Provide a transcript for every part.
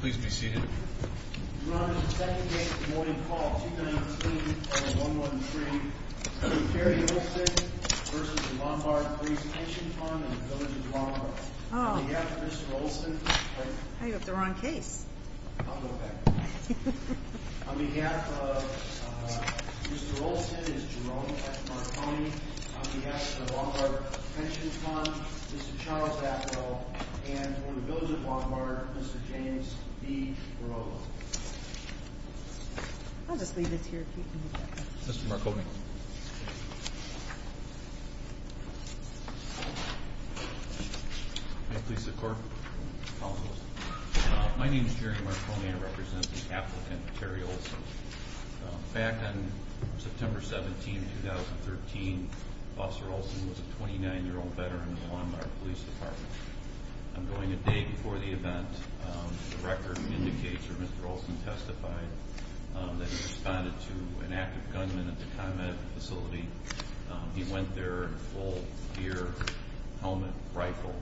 Please be seated. Your Honor, this is the second case of the morning call, 293-113. Mr. Terry Olson v. Lombard Police Pension Fund and the Village of Lombard. On behalf of Mr. Olson, I hope they're on case. I'll go back. On behalf of Mr. Olson, it's Jerome at Marconi. On behalf of the Lombard Pension Fund, it's Charles Atwell. And for the Village of Lombard, Mr. James B. Brogan. I'll just leave this here if you can move back. Mr. Marconi. May it please the Court. Counsel. My name is Jerry Marconi. I represent the applicant, Terry Olson. Back on September 17, 2013, Officer Olson was a 29-year-old veteran of the Lombard Police Department. I'm going a day before the event. The record indicates, or Mr. Olson testified, that he responded to an active gunman at the ComEd facility. He went there in a full gear, helmet, rifle,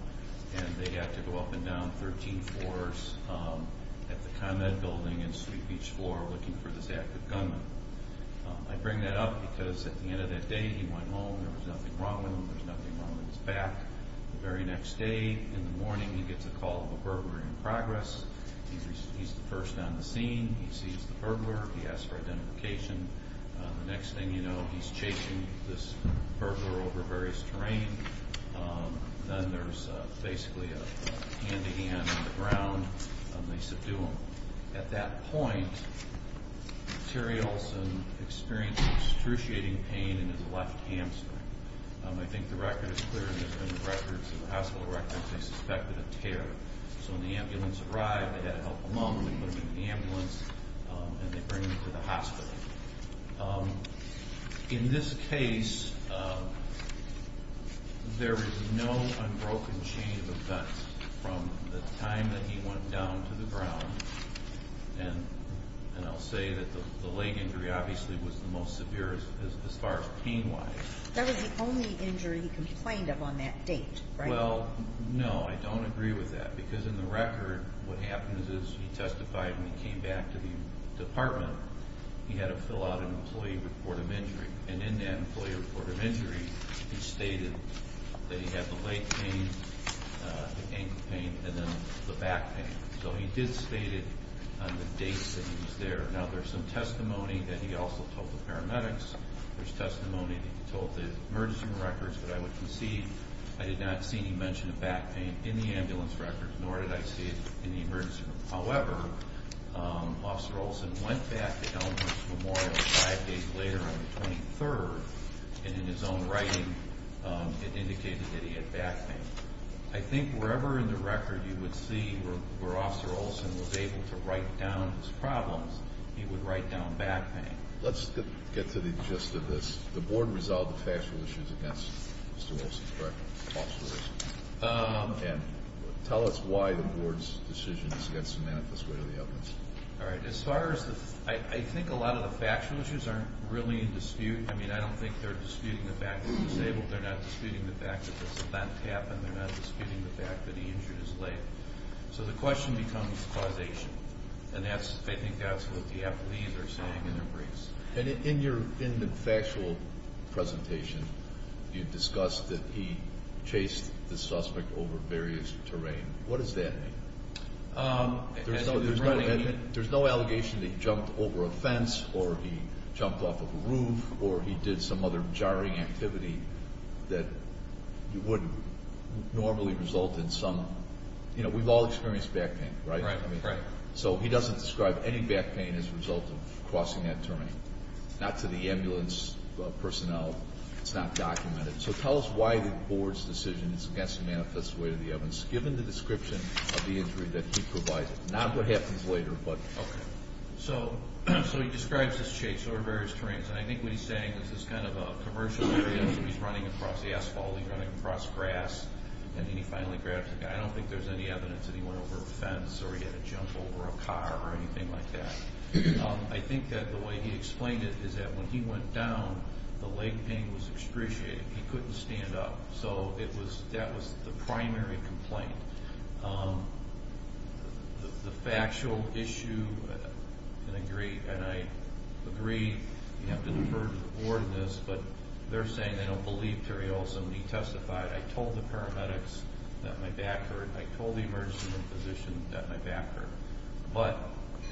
and they had to go up and down 13 floors at the ComEd building and Sweet Beach floor looking for this active gunman. I bring that up because at the end of that day, he went home. There was nothing wrong with him. There was nothing wrong with his back. The very next day, in the morning, he gets a call of a burglar in progress. He's the first on the scene. He sees the burglar. He asks for identification. The next thing you know, he's chasing this burglar over various terrain. Then there's basically a hand-to-hand on the ground, and they subdue him. At that point, Terry Olson experiences excruciating pain in his left hamstring. I think the record is clear. In the hospital records, they suspected a tear. So when the ambulance arrived, they had to help him up, and they put him in the ambulance, and they bring him to the hospital. In this case, there is no unbroken chain of events from the time that he went down to the ground. I'll say that the leg injury obviously was the most severe as far as pain-wise. That was the only injury he complained of on that date, right? Well, no, I don't agree with that because in the record, what happens is he testified when he came back to the department. He had to fill out an employee report of injury, and in that employee report of injury, he stated that he had the leg pain, the ankle pain, and then the back pain. So he did state it on the dates that he was there. Now, there's some testimony that he also told the paramedics. There's testimony that he told the emergency room records, but I would concede I did not see any mention of back pain in the ambulance records, nor did I see it in the emergency room. However, Officer Olson went back to Elmhurst Memorial five days later on the 23rd, and in his own writing, it indicated that he had back pain. I think wherever in the record you would see where Officer Olson was able to write down his problems, he would write down back pain. Let's get to the gist of this. The board resolved the factual issues against Mr. Olson, correct? Officer Olson. And tell us why the board's decision is against the manifest way of the evidence. All right. As far as the—I think a lot of the factual issues aren't really in dispute. I mean, I don't think they're disputing the fact that he's disabled. They're not disputing the fact that this event happened. They're not disputing the fact that he injured his leg. So the question becomes causation, and I think that's what the affilees are saying in their briefs. And in the factual presentation, you discussed that he chased the suspect over various terrain. What does that mean? There's no allegation that he jumped over a fence or he jumped off of a roof or he did some other jarring activity that would normally result in some— you know, we've all experienced back pain, right? Right. So he doesn't describe any back pain as a result of crossing that terrain, not to the ambulance personnel. It's not documented. So tell us why the board's decision is against the manifest way of the evidence. Given the description of the injury that he provided. Not what happens later, but— Okay. So he describes his chase over various terrains, and I think what he's saying is it's kind of a commercial area, so he's running across the asphalt, he's running across grass, and then he finally grabs the guy. I don't think there's any evidence that he went over a fence or he had a jump over a car or anything like that. I think that the way he explained it is that when he went down, the leg pain was excruciating. He couldn't stand up. So that was the primary complaint. The factual issue, and I agree you have to defer to the board on this, but they're saying they don't believe Terry Olsen when he testified. I told the paramedics that my back hurt. I told the emergency room physician that my back hurt. But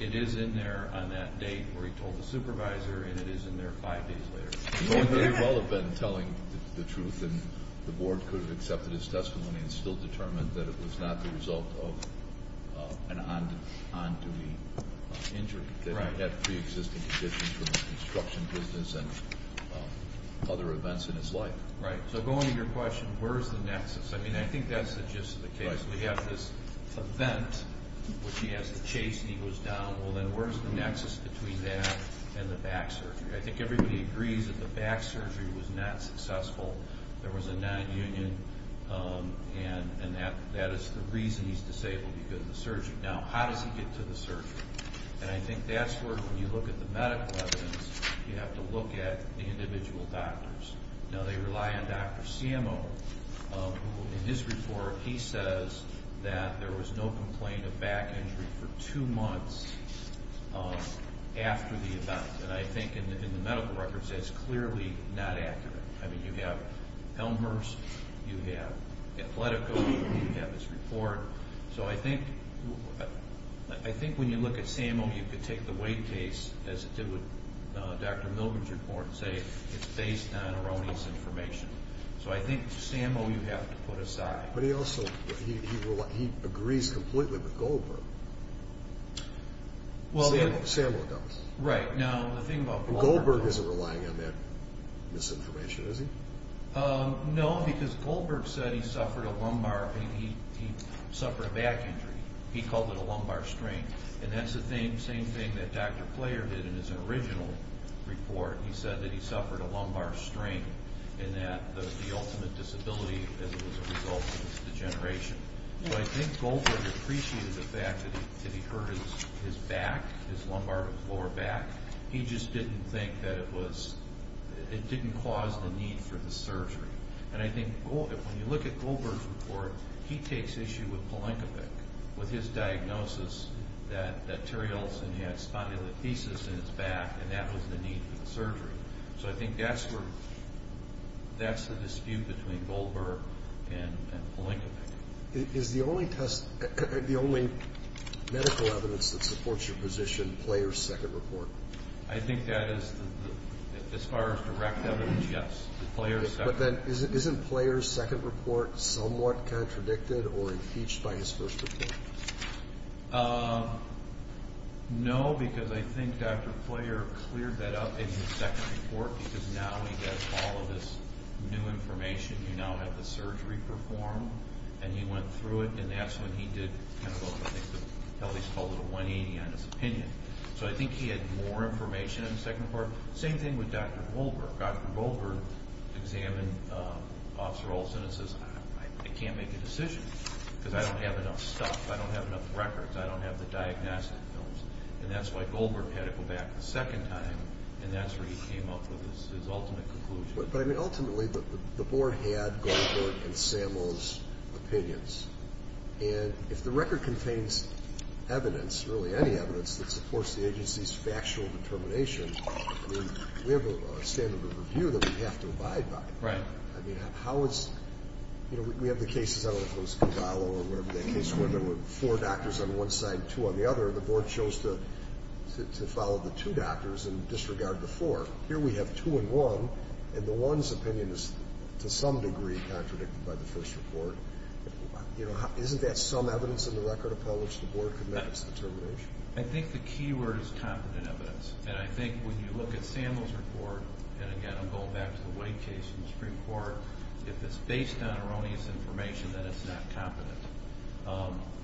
it is in there on that date where he told the supervisor, and it is in there five days later. You all have been telling the truth, and the board could have accepted his testimony and still determined that it was not the result of an on-duty injury, that he had pre-existing conditions from the construction business and other events in his life. Right. So going to your question, where is the nexus? I mean, I think that's just the case. We have this event which he has to chase, and he goes down. Well, then where is the nexus between that and the back surgery? I think everybody agrees that the back surgery was not successful. There was a nonunion, and that is the reason he's disabled, because of the surgery. Now, how does he get to the surgery? And I think that's where, when you look at the medical evidence, you have to look at the individual doctors. Now, they rely on Dr. Ciamo, who, in his report, he says that there was no complaint of back injury for two months after the event. And I think, in the medical records, that's clearly not accurate. I mean, you have Elmer's, you have Atletico, you have his report. So I think when you look at Ciamo, you could take the weight case, as it did with Dr. Milgram's report, and say it's based on erroneous information. So I think Ciamo you have to put aside. But he also agrees completely with Goldberg. Ciamo does. Goldberg isn't relying on that misinformation, is he? No, because Goldberg said he suffered a lumbar, he suffered a back injury. He called it a lumbar strain. And that's the same thing that Dr. Player did in his original report. He said that he suffered a lumbar strain, and that the ultimate disability was a result of his degeneration. So I think Goldberg appreciated the fact that he hurt his back, his lower back. He just didn't think that it was, it didn't cause the need for the surgery. And I think when you look at Goldberg's report, he takes issue with Palenkovic, with his diagnosis that Terry Olsen had spondylolisthesis in his back, and that was the need for the surgery. So I think that's the dispute between Goldberg and Palenkovic. Is the only medical evidence that supports your position Player's second report? I think that is, as far as direct evidence, yes. But then isn't Player's second report somewhat contradicted or impeached by his first report? No, because I think Dr. Player cleared that up in his second report because now he has all of this new information. You now have the surgery performed, and he went through it, and that's when he did kind of what I think Kelly's called a 180 on his opinion. So I think he had more information in the second report. Same thing with Dr. Goldberg. Dr. Goldberg examined Officer Olsen and says, I can't make a decision because I don't have enough stuff. I don't have enough records. I don't have the diagnostic films. And that's why Goldberg had to go back a second time, and that's where he came up with his ultimate conclusion. But, I mean, ultimately the Board had Goldberg and Samuels' opinions. And if the record contains evidence, really any evidence, that supports the agency's factual determination, I mean, we have a standard of review that we have to abide by. Right. I mean, how is – you know, we have the cases, I don't know if it was Condallo or whatever that case was, where there were four doctors on one side, two on the other, and the Board chose to follow the two doctors and disregard the four. Here we have two and one, and the one's opinion is, to some degree, contradicted by the first report. You know, isn't that some evidence in the record, Appellants, the Board committed its determination? I think the key word is competent evidence. And I think when you look at Samuels' report, and, again, I'm going back to the Wade case in the Supreme Court, if it's based on erroneous information, then it's not competent.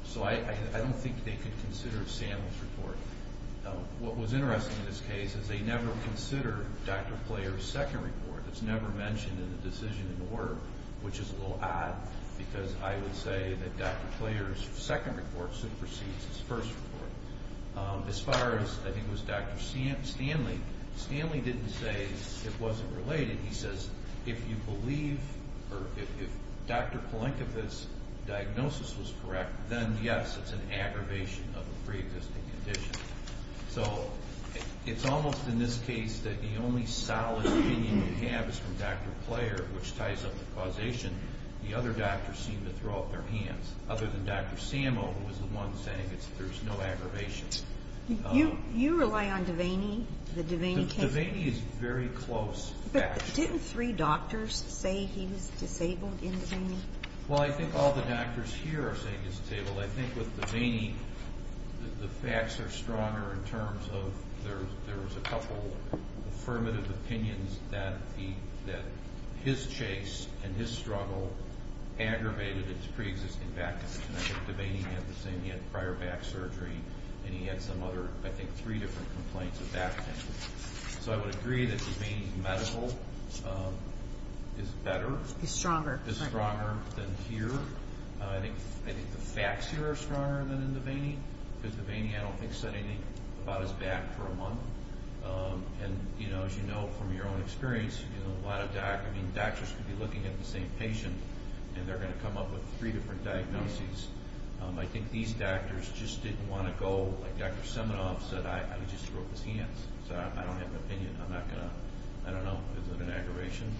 So I don't think they could consider Samuels' report. What was interesting in this case is they never considered Dr. Pleyer's second report. It's never mentioned in the decision in order, which is a little odd, because I would say that Dr. Pleyer's second report supersedes his first report. As far as, I think it was Dr. Stanley, Stanley didn't say it wasn't related. He says, if you believe, or if Dr. Polankiewicz's diagnosis was correct, then, yes, it's an aggravation of a preexisting condition. So it's almost in this case that the only solid opinion you have is from Dr. Pleyer, which ties up the causation. The other doctors seem to throw up their hands, other than Dr. Samuels, who was the one saying there's no aggravation. You rely on Devaney, the Devaney case? Devaney is very close. But didn't three doctors say he was disabled in Devaney? Well, I think all the doctors here are saying he's disabled. I think with Devaney, the facts are stronger in terms of there was a couple affirmative opinions that his chase and his struggle aggravated his preexisting back condition. I think Devaney had the same. He had prior back surgery, and he had some other, I think, three different complaints of back pain. So I would agree that Devaney's medical is better. He's stronger. He's stronger than here. I think the facts here are stronger than in Devaney, because Devaney I don't think said anything about his back for a month. And, you know, as you know from your own experience, a lot of doctors could be looking at the same patient, and they're going to come up with three different diagnoses. I think these doctors just didn't want to go. Like Dr. Seminoff said, I would just throw up his hands. So I don't have an opinion. I'm not going to. I don't know. Is it an aggravation?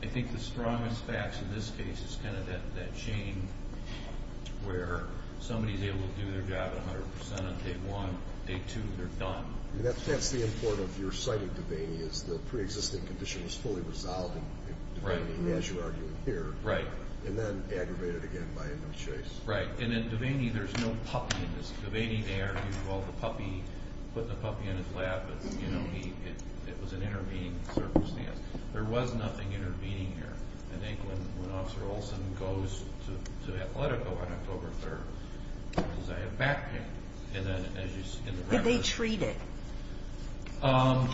I think the strongest facts in this case is kind of that chain where somebody's able to do their job 100% of day one. Day two, they're done. That's the importance of your citing Devaney, is the preexisting condition was fully resolved, as you're arguing here, and then aggravated again by a new chase. Right. And in Devaney, there's no puppy in this. Devaney, they argued, well, the puppy, put the puppy in his lap, but, you know, it was an intervening circumstance. There was nothing intervening here. I think when Officer Olson goes to Atletico on October 3rd, he says, I have back pain. Did they treat it?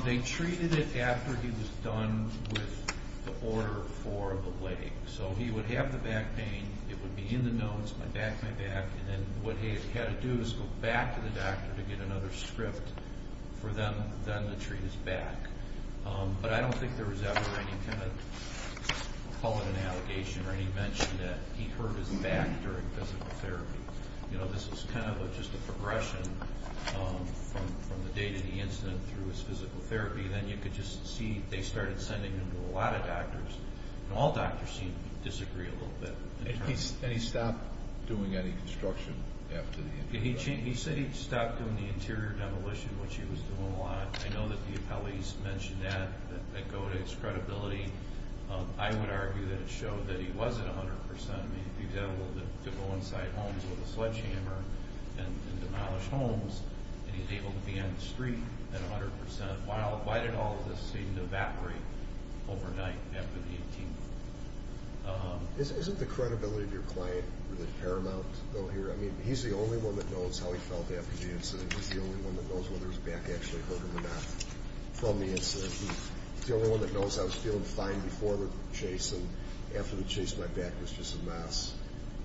They treated it after he was done with the order for the leg. So he would have the back pain. It would be in the notes, my back, my back, and then what he had to do is go back to the doctor to get another script for them then to treat his back. But I don't think there was ever any kind of, call it an allegation, or any mention that he hurt his back during physical therapy. You know, this is kind of just a progression from the date of the incident through his physical therapy. Then you could just see they started sending him to a lot of doctors, and all doctors seemed to disagree a little bit. Did he stop doing any construction after the injury? He said he stopped doing the interior demolition, which he was doing a lot. I know that the appellees mentioned that, that go to his credibility. I would argue that it showed that he wasn't 100%. I mean, he was able to go inside homes with a sledgehammer and demolish homes, and he was able to be on the street at 100%. Why did all of this seem to evaporate overnight after the 18th? Isn't the credibility of your client really paramount though here? I mean, he's the only one that knows how he felt after the incident. He's the only one that knows whether his back actually hurt him or not from the incident. He's the only one that knows how he was feeling fine before the chase and after the chase my back was just a mess.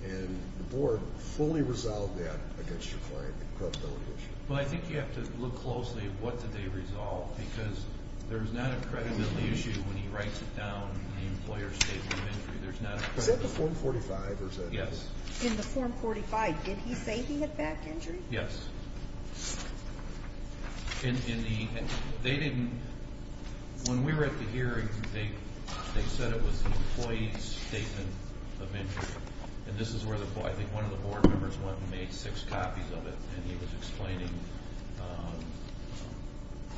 And the board fully resolved that against your client, the credibility issue. Well, I think you have to look closely at what did they resolve, because there's not a credibility issue when he writes it down in the employer's statement of injury. Is that the Form 45, or is that this? Yes. In the Form 45, did he say he had back injury? Yes. When we were at the hearing, they said it was the employee's statement of injury, and this is where I think one of the board members went and made six copies of it, and he was explaining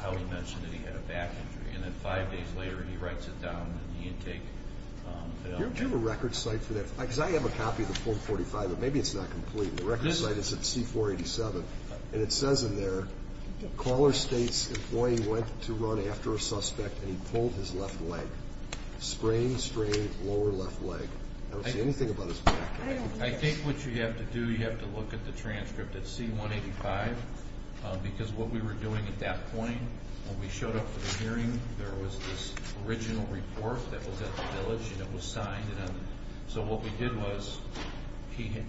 how he mentioned that he had a back injury, and then five days later he writes it down in the intake. Do you have a record site for that? Because I have a copy of the Form 45, but maybe it's not complete. The record site is at C-487, and it says in there, caller states employee went to run after a suspect and he pulled his left leg, sprained, strained, lower left leg. I don't see anything about his back injury. I think what you have to do, you have to look at the transcript at C-185, because what we were doing at that point when we showed up for the hearing, there was this original report that was at the village, and it was signed. So what we did was, I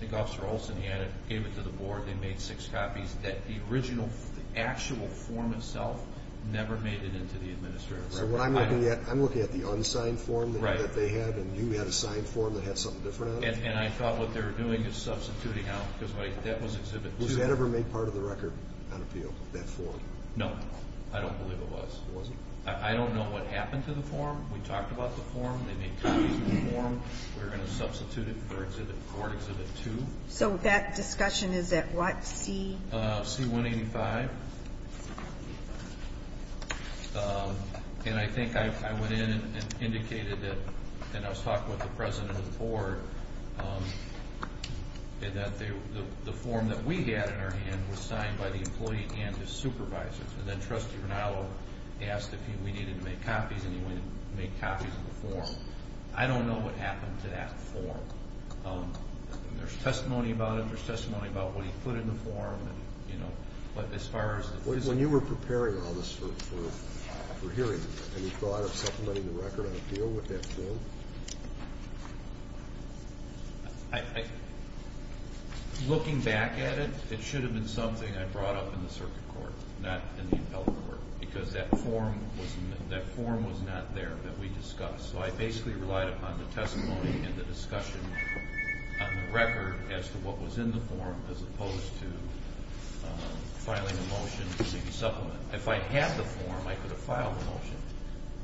think Officer Olson, he gave it to the board, they made six copies. The actual form itself never made it into the administration. I'm looking at the unsigned form that they had, and you had a signed form that had something different on it. And I thought what they were doing is substituting out, because that was Exhibit 2. Was that ever made part of the record on appeal, that form? No, I don't believe it was. I don't know what happened to the form. We talked about the form. They made copies of the form. We were going to substitute it for Exhibit 2. So that discussion is at what C? C-185. And I think I went in and indicated that, and I was talking with the president of the board, that the form that we had in our hand was signed by the employee and his supervisor. And then Trustee Renallo asked if we needed to make copies, and he wanted to make copies of the form. I don't know what happened to that form. There's testimony about it. There's testimony about what he put in the form. When you were preparing all this for hearing, any thought of supplementing the record on appeal with that form? Looking back at it, it should have been something I brought up in the circuit court, not in the appellate court, because that form was not there that we discussed. So I basically relied upon the testimony and the discussion on the record as to what was in the form as opposed to filing a motion to make a supplement. If I had the form, I could have filed the motion.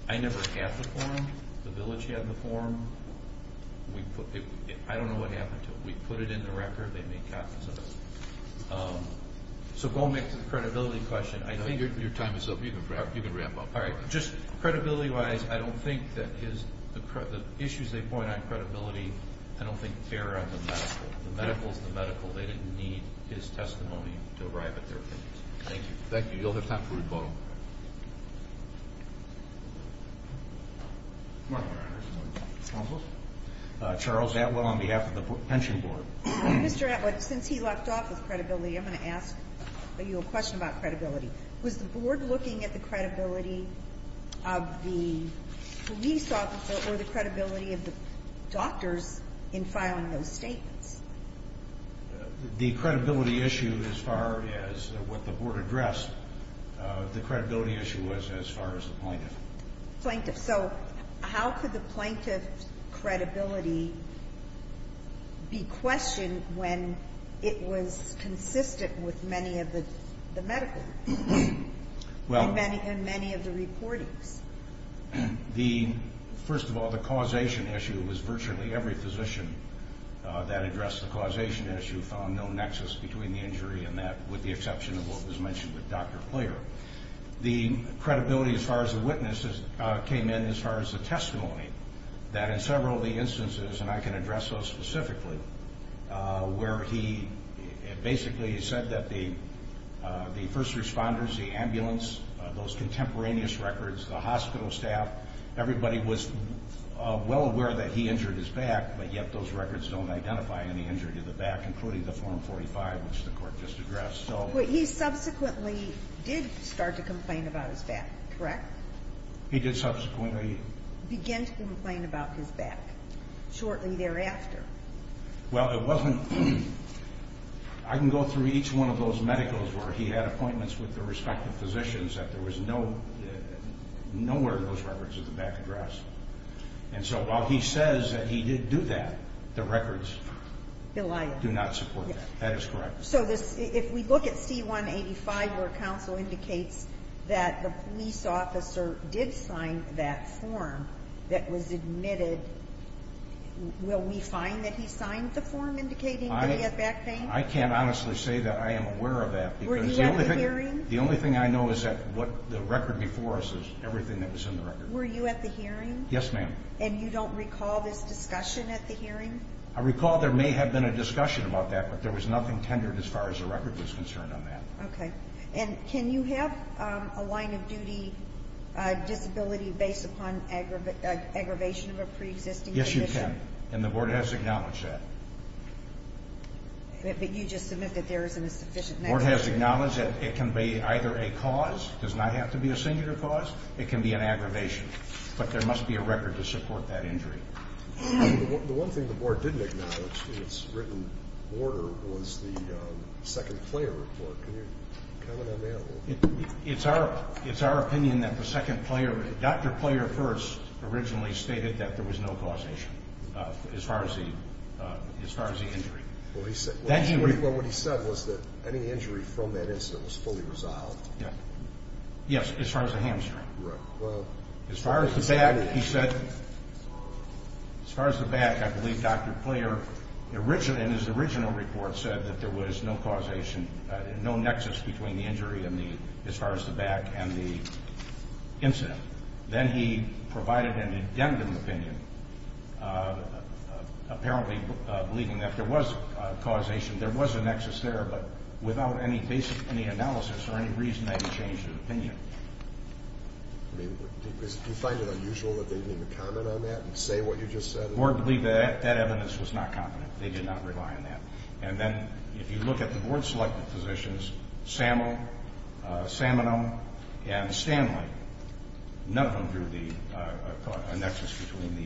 I never had the form. The village had the form. I don't know what happened to it. We put it in the record. They made copies of it. So going back to the credibility question, I think... Your time is up. You can wrap up. All right. Just credibility-wise, I don't think that his issues they point on credibility, I don't think they're on the medical. The medical is the medical. They didn't need his testimony to arrive at their opinions. Thank you. Thank you. You'll have time for rebuttal. Charles Atwell on behalf of the pension board. Mr. Atwell, since he left off with credibility, I'm going to ask you a question about credibility. Was the board looking at the credibility of the police officer or the credibility of the doctors in filing those statements? The credibility issue, as far as what the board addressed, the credibility issue was as far as the plaintiff. Plaintiff. So how could the plaintiff's credibility be questioned when it was consistent with many of the medical and many of the reportings? First of all, the causation issue was virtually every physician that addressed the causation issue found no nexus between the injury and that with the exception of what was mentioned with Dr. Clair. The credibility as far as the witness came in as far as the testimony, that in several of the instances, and I can address those specifically, where he basically said that the first responders, the ambulance, those contemporaneous records, the hospital staff, everybody was well aware that he injured his back, but yet those records don't identify any injury to the back, including the form 45, which the court just addressed. But he subsequently did start to complain about his back, correct? He did subsequently. Began to complain about his back shortly thereafter. Well, it wasn't. I can go through each one of those medicals where he had appointments with the respective physicians that there was nowhere in those records that the back addressed. And so while he says that he did do that, the records do not support that. That is correct. So if we look at C-185 where counsel indicates that the police officer did sign that form that was admitted, will we find that he signed the form indicating that he had back pain? I can't honestly say that I am aware of that. Were you at the hearing? The only thing I know is that the record before us is everything that was in the record. Were you at the hearing? Yes, ma'am. And you don't recall this discussion at the hearing? I recall there may have been a discussion about that, but there was nothing tendered as far as the record was concerned on that. Okay. And can you have a line of duty disability based upon aggravation of a preexisting condition? Yes, you can. And the Board has acknowledged that. But you just submit that there isn't a sufficient negligence. The Board has acknowledged that it can be either a cause. It does not have to be a singular cause. It can be an aggravation. But there must be a record to support that injury. The one thing the Board didn't acknowledge in its written order was the second player report. Can you comment on that? It's our opinion that the second player, Dr. Player first, originally stated that there was no causation as far as the injury. Well, what he said was that any injury from that incident was fully resolved. Yes, as far as the hamstring. As far as the back, he said, as far as the back, I believe Dr. Player, in his original report, said that there was no causation, no nexus between the injury as far as the back and the incident. Then he provided an addendum opinion, apparently believing that there was causation, there was a nexus there, but without any basic analysis or any reason, they changed their opinion. Do you find it unusual that they didn't even comment on that and say what you just said? The Board believed that that evidence was not confident. They did not rely on that. Then if you look at the Board-selected physicians, Sammo, Saminum, and Stanley, none of them drew a nexus between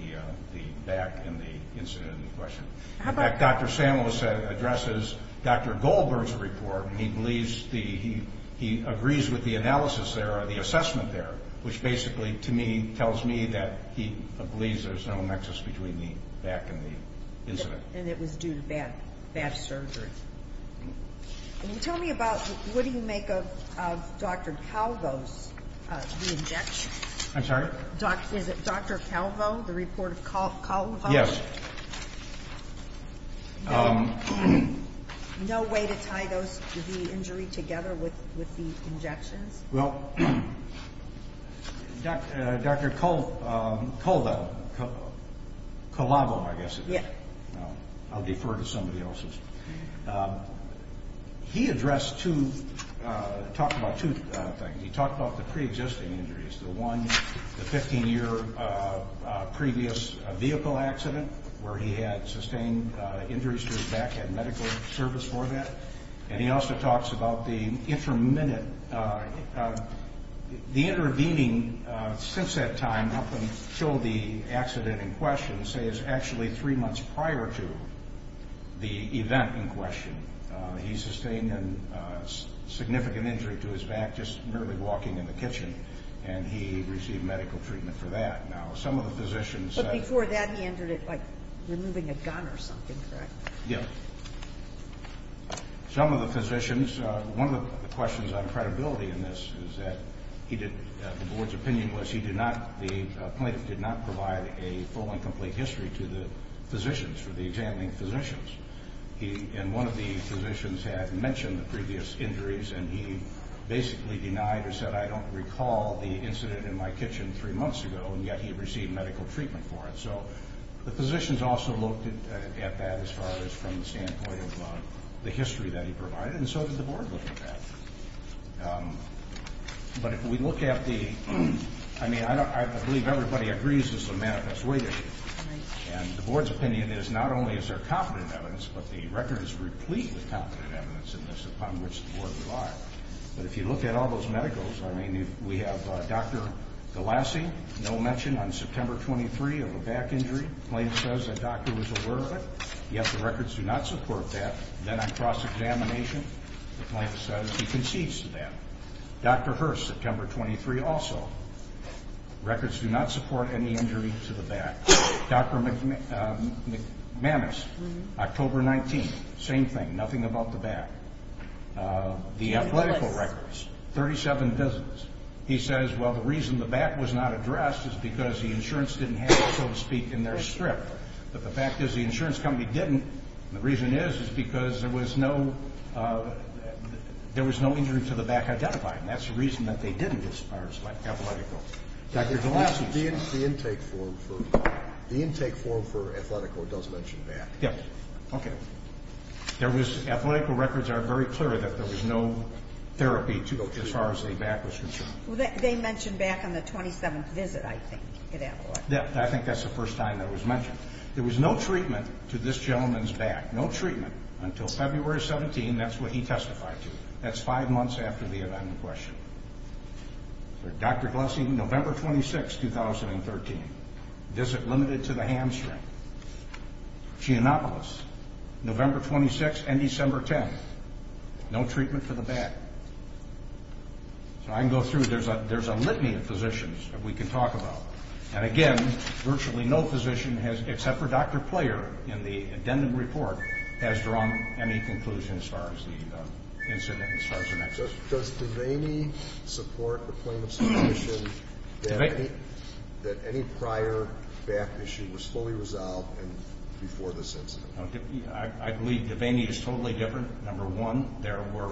the back and the incident in question. In fact, Dr. Samuels addresses Dr. Goldberg's report, and he agrees with the analysis there or the assessment there, which basically, to me, tells me that he believes there's no nexus between the back and the incident. And it was due to bad surgery. Tell me about what do you make of Dr. Calvo's re-injection. I'm sorry? Is it Dr. Calvo, the report of Calvo? Yes. No way to tie the injury together with the injections? Well, Dr. Calvo, I guess it is. I'll defer to somebody else's. He addressed two, talked about two things. He talked about the preexisting injuries, the one, the 15-year previous vehicle accident where he had sustained injuries to his back, had medical service for that. And he also talks about the intermittent. The intervening since that time up until the accident in question, say, is actually three months prior to the event in question. He sustained a significant injury to his back just merely walking in the kitchen, and he received medical treatment for that. Now, some of the physicians said he did. But before that, he injured it by removing a gun or something, correct? Yes. Some of the physicians, one of the questions on credibility in this is that he did, the board's opinion was he did not, the plaintiff did not provide a full and complete history to the physicians, for the examining physicians. And one of the physicians had mentioned the previous injuries, and he basically denied or said, I don't recall the incident in my kitchen three months ago, and yet he received medical treatment for it. So the physicians also looked at that as far as from the standpoint of the history that he provided, and so did the board look at that. But if we look at the, I mean, I believe everybody agrees this is a manifest way issue. And the board's opinion is not only is there competent evidence, but the record is replete with competent evidence in this upon which the board relied. But if you look at all those medicals, I mean, we have Dr. Galassi, no mention on September 23 of a back injury. The plaintiff says the doctor was aware of it, yet the records do not support that. Then on cross-examination, the plaintiff says he concedes to that. Dr. Hurst, September 23 also. Records do not support any injury to the back. Dr. McManus, October 19, same thing, nothing about the back. The athletical records, 37 visits. He says, well, the reason the back was not addressed is because the insurance didn't have it, so to speak, in their strip. But the fact is the insurance company didn't, and the reason is is because there was no injury to the back identified, and that's the reason that they didn't as far as athletical. Dr. Galassi. The intake form for athletical does mention back. Yes. Okay. Athletical records are very clear that there was no therapy as far as the back was concerned. Well, they mentioned back on the 27th visit, I think, at Adelaide. I think that's the first time that was mentioned. There was no treatment to this gentleman's back, no treatment, until February 17. That's what he testified to. That's five months after the event in question. Dr. Galassi, November 26, 2013. Visit limited to the hamstring. Giannopoulos, November 26 and December 10. No treatment for the back. So I can go through. There's a litany of physicians that we can talk about. And, again, virtually no physician has, except for Dr. Player, in the addendum report, has drawn any conclusion as far as the incident as far as the neck. Does Devaney support the point of submission that any prior back issue was fully resolved before this incident? I believe Devaney is totally different. Number one, there were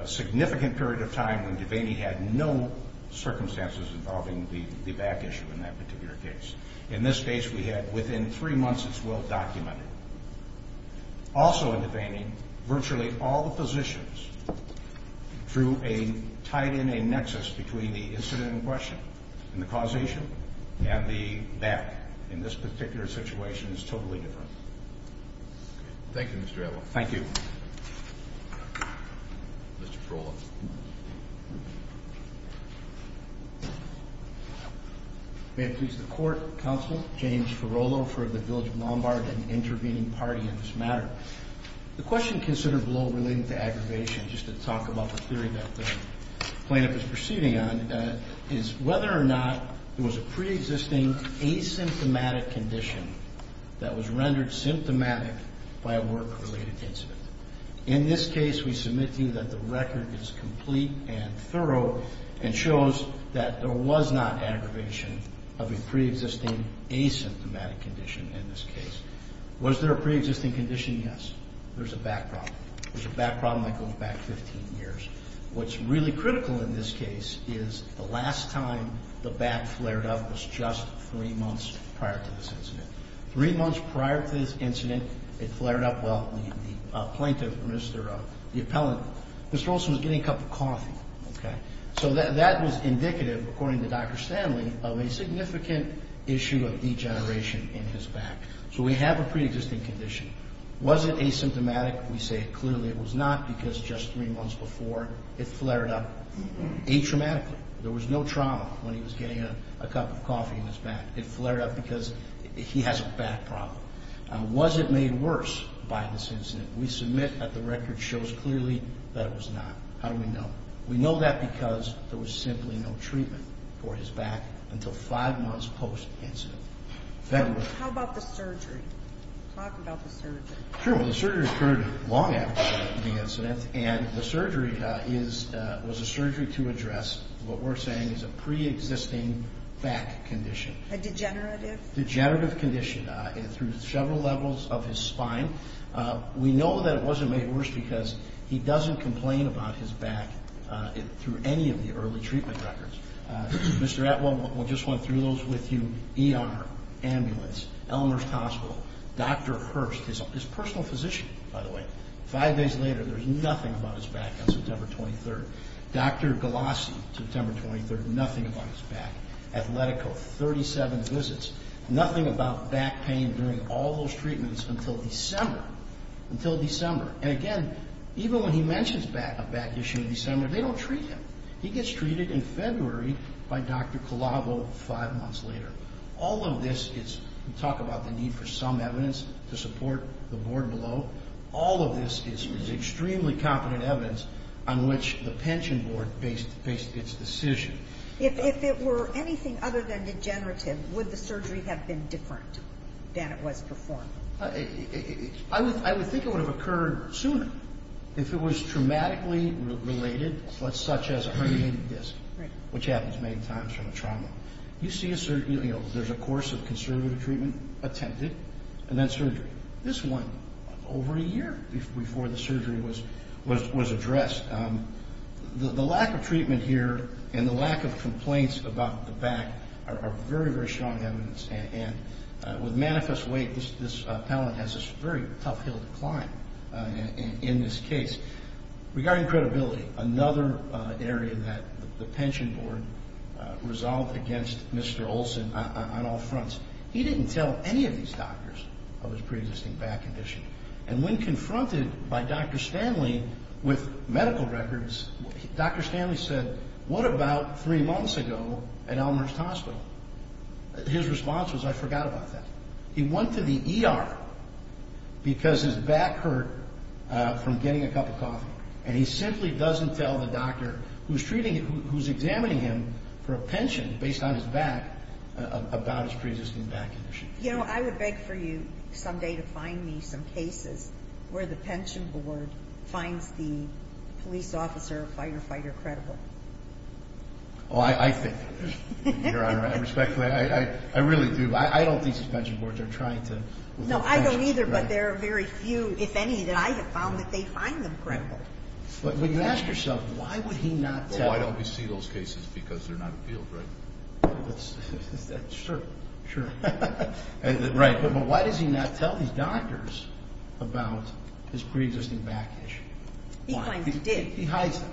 a significant period of time when Devaney had no circumstances involving the back issue in that particular case. In this case, we had within three months, it's well documented. Also in Devaney, virtually all the physicians through a tied in a nexus between the incident in question and the causation and the back in this particular situation is totally different. Thank you, Mr. Adler. Thank you. Mr. Ferolo. May it please the Court, Counsel, James Ferolo for the Village of Lombard and intervening party in this matter. The question considered below relating to aggravation, just to talk about the theory that the plaintiff is proceeding on, is whether or not there was a preexisting asymptomatic condition that was rendered symptomatic by a work-related incident. In this case, we submit to you that the record is complete and thorough and shows that there was not aggravation of a preexisting asymptomatic condition in this case. Was there a preexisting condition? Yes. There's a back problem. There's a back problem that goes back 15 years. What's really critical in this case is the last time the back flared up was just three months prior to this incident. Three months prior to this incident, it flared up. Well, the plaintiff, Mr. Appellant, Mr. Olson was getting a cup of coffee. Okay. So that was indicative, according to Dr. Stanley, of a significant issue of degeneration in his back. So we have a preexisting condition. Was it asymptomatic? We say clearly it was not because just three months before, it flared up atraumatically. It flared up because he has a back problem. Was it made worse by this incident? We submit that the record shows clearly that it was not. How do we know? We know that because there was simply no treatment for his back until five months post-incident. How about the surgery? Talk about the surgery. Sure. Well, the surgery occurred long after the incident, and the surgery was a surgery to address what we're saying is a preexisting back condition. A degenerative? A degenerative condition through several levels of his spine. We know that it wasn't made worse because he doesn't complain about his back through any of the early treatment records. Mr. Appellant, we'll just run through those with you. ER, ambulance, Elmhurst Hospital, Dr. Hurst, his personal physician, by the way, five days later, there's nothing about his back on September 23rd. Dr. Galassi, September 23rd, nothing about his back. Athletico, 37 visits, nothing about back pain during all those treatments until December. Until December. And, again, even when he mentions a back issue in December, they don't treat him. He gets treated in February by Dr. Colavo five months later. All of this is talk about the need for some evidence to support the board below. All of this is extremely competent evidence on which the pension board based its decision. If it were anything other than degenerative, would the surgery have been different than it was performed? I would think it would have occurred sooner if it was traumatically related, such as a herniated disc, which happens many times from a trauma. You see a certain, you know, there's a course of conservative treatment attempted and then surgery. This went over a year before the surgery was addressed. The lack of treatment here and the lack of complaints about the back are very, very strong evidence. And with manifest weight, this appellant has a very tough hill to climb in this case. Regarding credibility, another area that the pension board resolved against Mr. Olson on all fronts, he didn't tell any of these doctors of his preexisting back condition. And when confronted by Dr. Stanley with medical records, Dr. Stanley said, what about three months ago at Elmhurst Hospital? His response was, I forgot about that. He went to the ER because his back hurt from getting a cup of coffee, and he simply doesn't tell the doctor who's treating him, who's examining him for a pension based on his back, about his preexisting back condition. You know, I would beg for you someday to find me some cases where the pension board finds the police officer or firefighter credible. Oh, I think, Your Honor, I respect that. I really do, but I don't think these pension boards are trying to. No, I don't either, but there are very few, if any, that I have found that they find them credible. But you ask yourself, why would he not tell? Why don't we see those cases? Because they're not appealed, right? Sure, sure. Right, but why does he not tell these doctors about his preexisting back issue? He hides it. He hides it.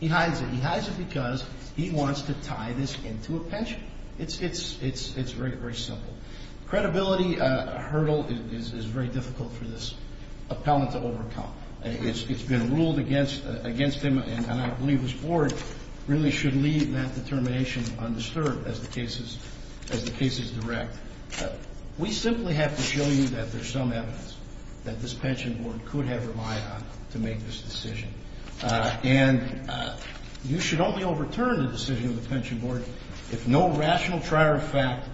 He hides it. He hides it because he wants to tie this into a pension. It's very, very simple. Credibility hurdle is very difficult for this appellant to overcome. It's been ruled against him, and I believe his board really should leave that determination undisturbed as the case is direct. We simply have to show you that there's some evidence that this pension board could have her eye on to make this decision. And you should only overturn the decision of the pension board if no rational trier of fact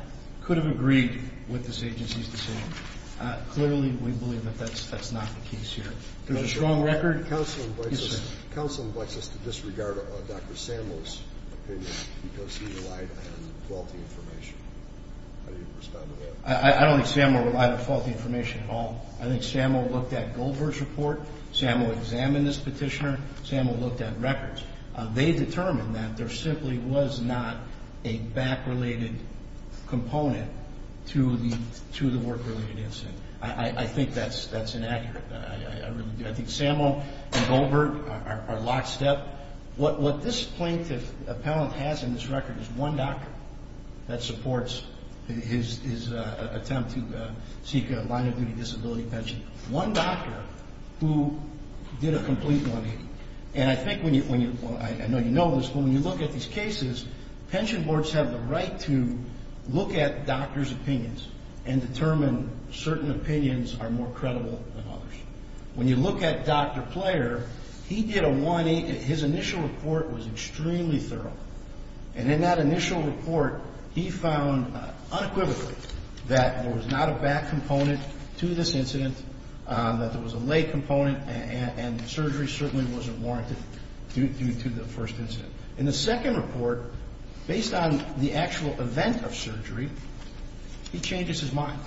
could have agreed with this agency's decision. Clearly, we believe that that's not the case here. There's a strong record. Counseling wants us to disregard Dr. Samuel's opinion because he relied on faulty information. How do you respond to that? I don't think Samuel relied on faulty information at all. I think Samuel looked at Goldberg's report. Samuel examined this petitioner. Samuel looked at records. They determined that there simply was not a back-related component to the work-related incident. I think that's inaccurate. I really do. I think Samuel and Goldberg are lockstep. What this plaintiff appellant has in this record is one doctor that supports his attempt to seek a line-of-duty disability pension, one doctor who did a complete money. And I think when you – well, I know you know this, but when you look at these cases, pension boards have the right to look at doctors' opinions and determine certain opinions are more credible than others. When you look at Dr. Player, he did a one-eighth. His initial report was extremely thorough. And in that initial report, he found unequivocally that there was not a back component to this incident, that there was a lay component, and surgery certainly wasn't warranted due to the first incident. In the second report, based on the actual event of surgery, he changes his mind.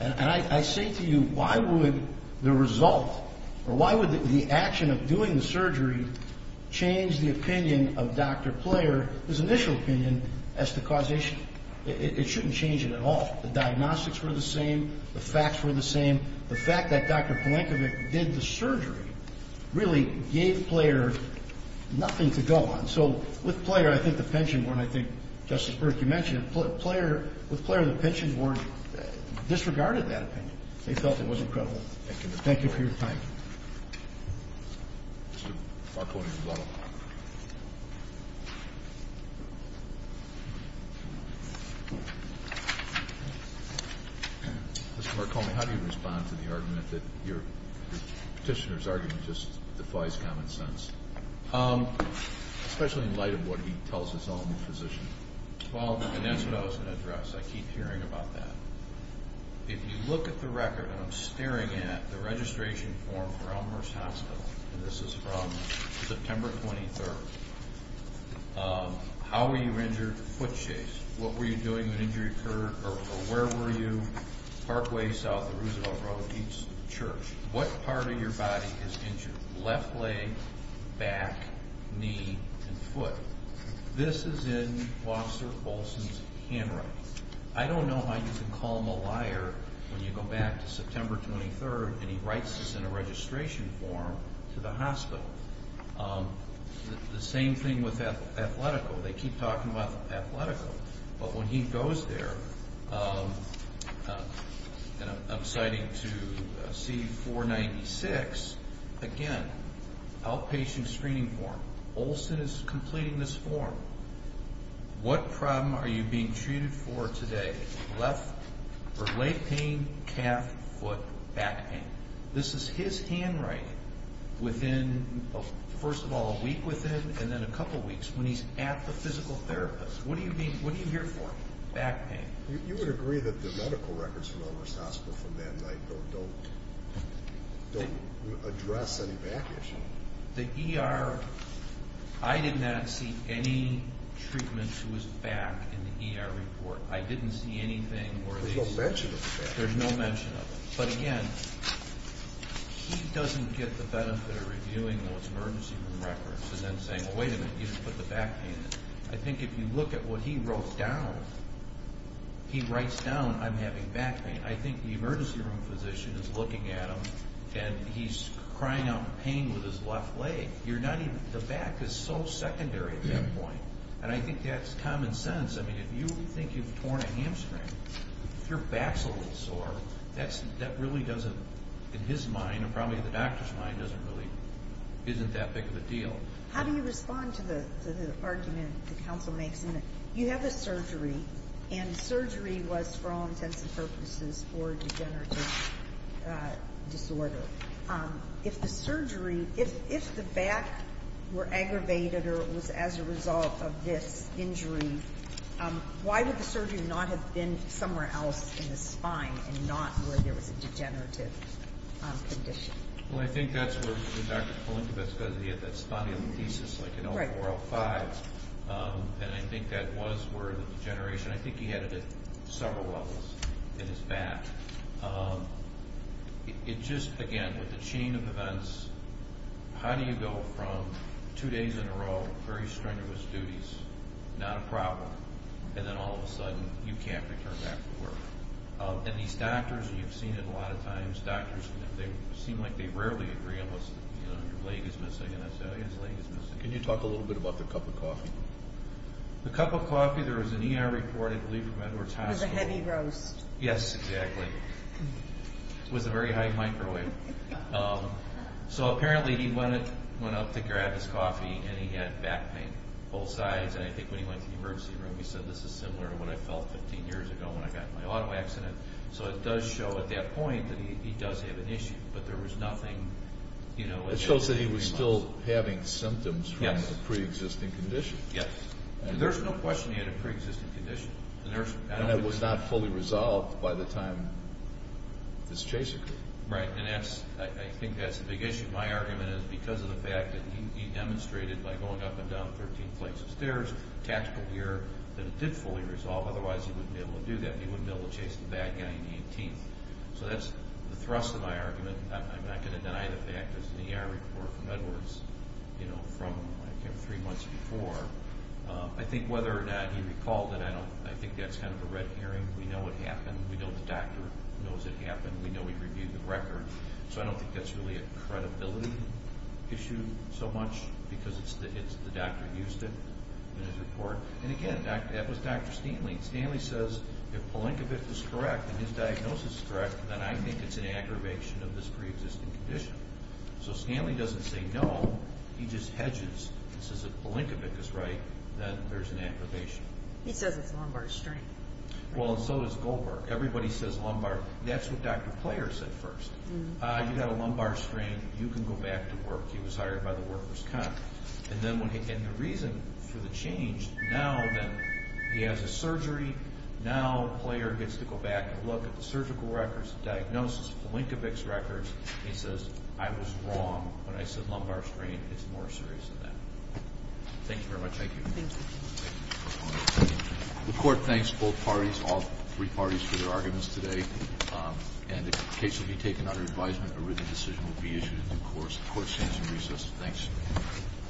And I say to you, why would the result or why would the action of doing the surgery change the opinion of Dr. Player, his initial opinion, as to causation? It shouldn't change it at all. The diagnostics were the same. The facts were the same. The fact that Dr. Polankovic did the surgery really gave Player nothing to go on. So with Player, I think the pension board, I think, Justice Burke, you mentioned, with Player, the pensions board disregarded that opinion. They felt it was incredible. Thank you for your time. Mr. Marconi. Mr. Marconi, how do you respond to the argument that your petitioner's argument just defies common sense, especially in light of what he tells his own physician? Well, that's what I was going to address. I keep hearing about that. If you look at the record, and I'm staring at the registration form for Elmhurst Hospital, and this is from September 23rd, how were you injured? Foot chase. What were you doing when the injury occurred, or where were you? Parkway, south of Roosevelt Road, East Church. What part of your body is injured? Left leg, back, knee, and foot. This is in Officer Olson's handwriting. I don't know how you can call him a liar when you go back to September 23rd and he writes this in a registration form to the hospital. The same thing with Athletico. They keep talking about Athletico. But when he goes there, and I'm citing to C-496, again, outpatient screening form. Olson is completing this form. What problem are you being treated for today? Leg pain, calf, foot, back pain. This is his handwriting within, first of all, a week with him, and then a couple weeks when he's at the physical therapist. What are you here for? Back pain. You would agree that the medical records from Elmhurst Hospital for men don't address any back issues. The ER, I did not see any treatment who was back in the ER report. I didn't see anything where there's no mention of it. But again, he doesn't get the benefit of reviewing those emergency room records and then saying, well, wait a minute, you didn't put the back pain in. I think if you look at what he wrote down, he writes down I'm having back pain. I think the emergency room physician is looking at him and he's crying out in pain with his left leg. The back is so secondary at that point, and I think that's common sense. I mean, if you think you've torn a hamstring, your back's a little sore, that really doesn't, in his mind and probably the doctor's mind, isn't that big of a deal. How do you respond to the argument the counsel makes? You have a surgery, and the surgery was for all intents and purposes for a degenerative disorder. If the surgery, if the back were aggravated or it was as a result of this injury, why would the surgery not have been somewhere else in the spine and not where there was a degenerative condition? Well, I think that's where Dr. Polinkiewicz goes. He had that spondylolisthesis like in 0405, and I think that was where the degeneration, I think he had it at several levels in his back. It just, again, with the chain of events, how do you go from two days in a row, very strenuous duties, not a problem, and then all of a sudden you can't return back to work? And these doctors, you've seen it a lot of times, these doctors seem like they rarely agree on what's, you know, your leg is missing. Can you talk a little bit about the cup of coffee? The cup of coffee, there was an ER report, I believe from Edwards Hospital. It was a heavy roast. Yes, exactly. It was a very high microwave. So apparently he went up to grab his coffee, and he had back pain, both sides, and I think when he went to the emergency room he said, this is similar to what I felt 15 years ago when I got in my auto accident. So it does show at that point that he does have an issue, but there was nothing, you know. It shows that he was still having symptoms from a preexisting condition. Yes, there's no question he had a preexisting condition. And it was not fully resolved by the time this chase occurred. Right, and I think that's the big issue. My argument is because of the fact that he demonstrated by going up and down 13 flights of stairs, tactical gear, that it did fully resolve, otherwise he wouldn't be able to do that. He wouldn't be able to chase the bad guy in the 18th. So that's the thrust of my argument. I'm not going to deny the fact there's an ER report from Edwards, you know, from three months before. I think whether or not he recalled it, I think that's kind of a red herring. We know what happened. We know the doctor knows it happened. We know he reviewed the record. So I don't think that's really a credibility issue so much because it's the doctor who used it in his report. And again, that was Dr. Steenly. Stanley says if Palenkovic is correct and his diagnosis is correct, then I think it's an aggravation of this preexisting condition. So Stanley doesn't say no. He just hedges and says if Palenkovic is right, then there's an aggravation. He says it's lumbar strain. Well, so does Goldberg. Everybody says lumbar. That's what Dr. Player said first. You've got a lumbar strain, you can go back to work. He was hired by the workers' comp. And the reason for the change now that he has a surgery, now Player gets to go back and look at the surgical records, the diagnosis, Palenkovic's records. He says, I was wrong when I said lumbar strain is more serious than that. Thank you very much. Thank you. The Court thanks both parties, all three parties, for their arguments today. And if the case will be taken under advisement, a written decision will be issued in due course. The Court stands in recess. Thanks.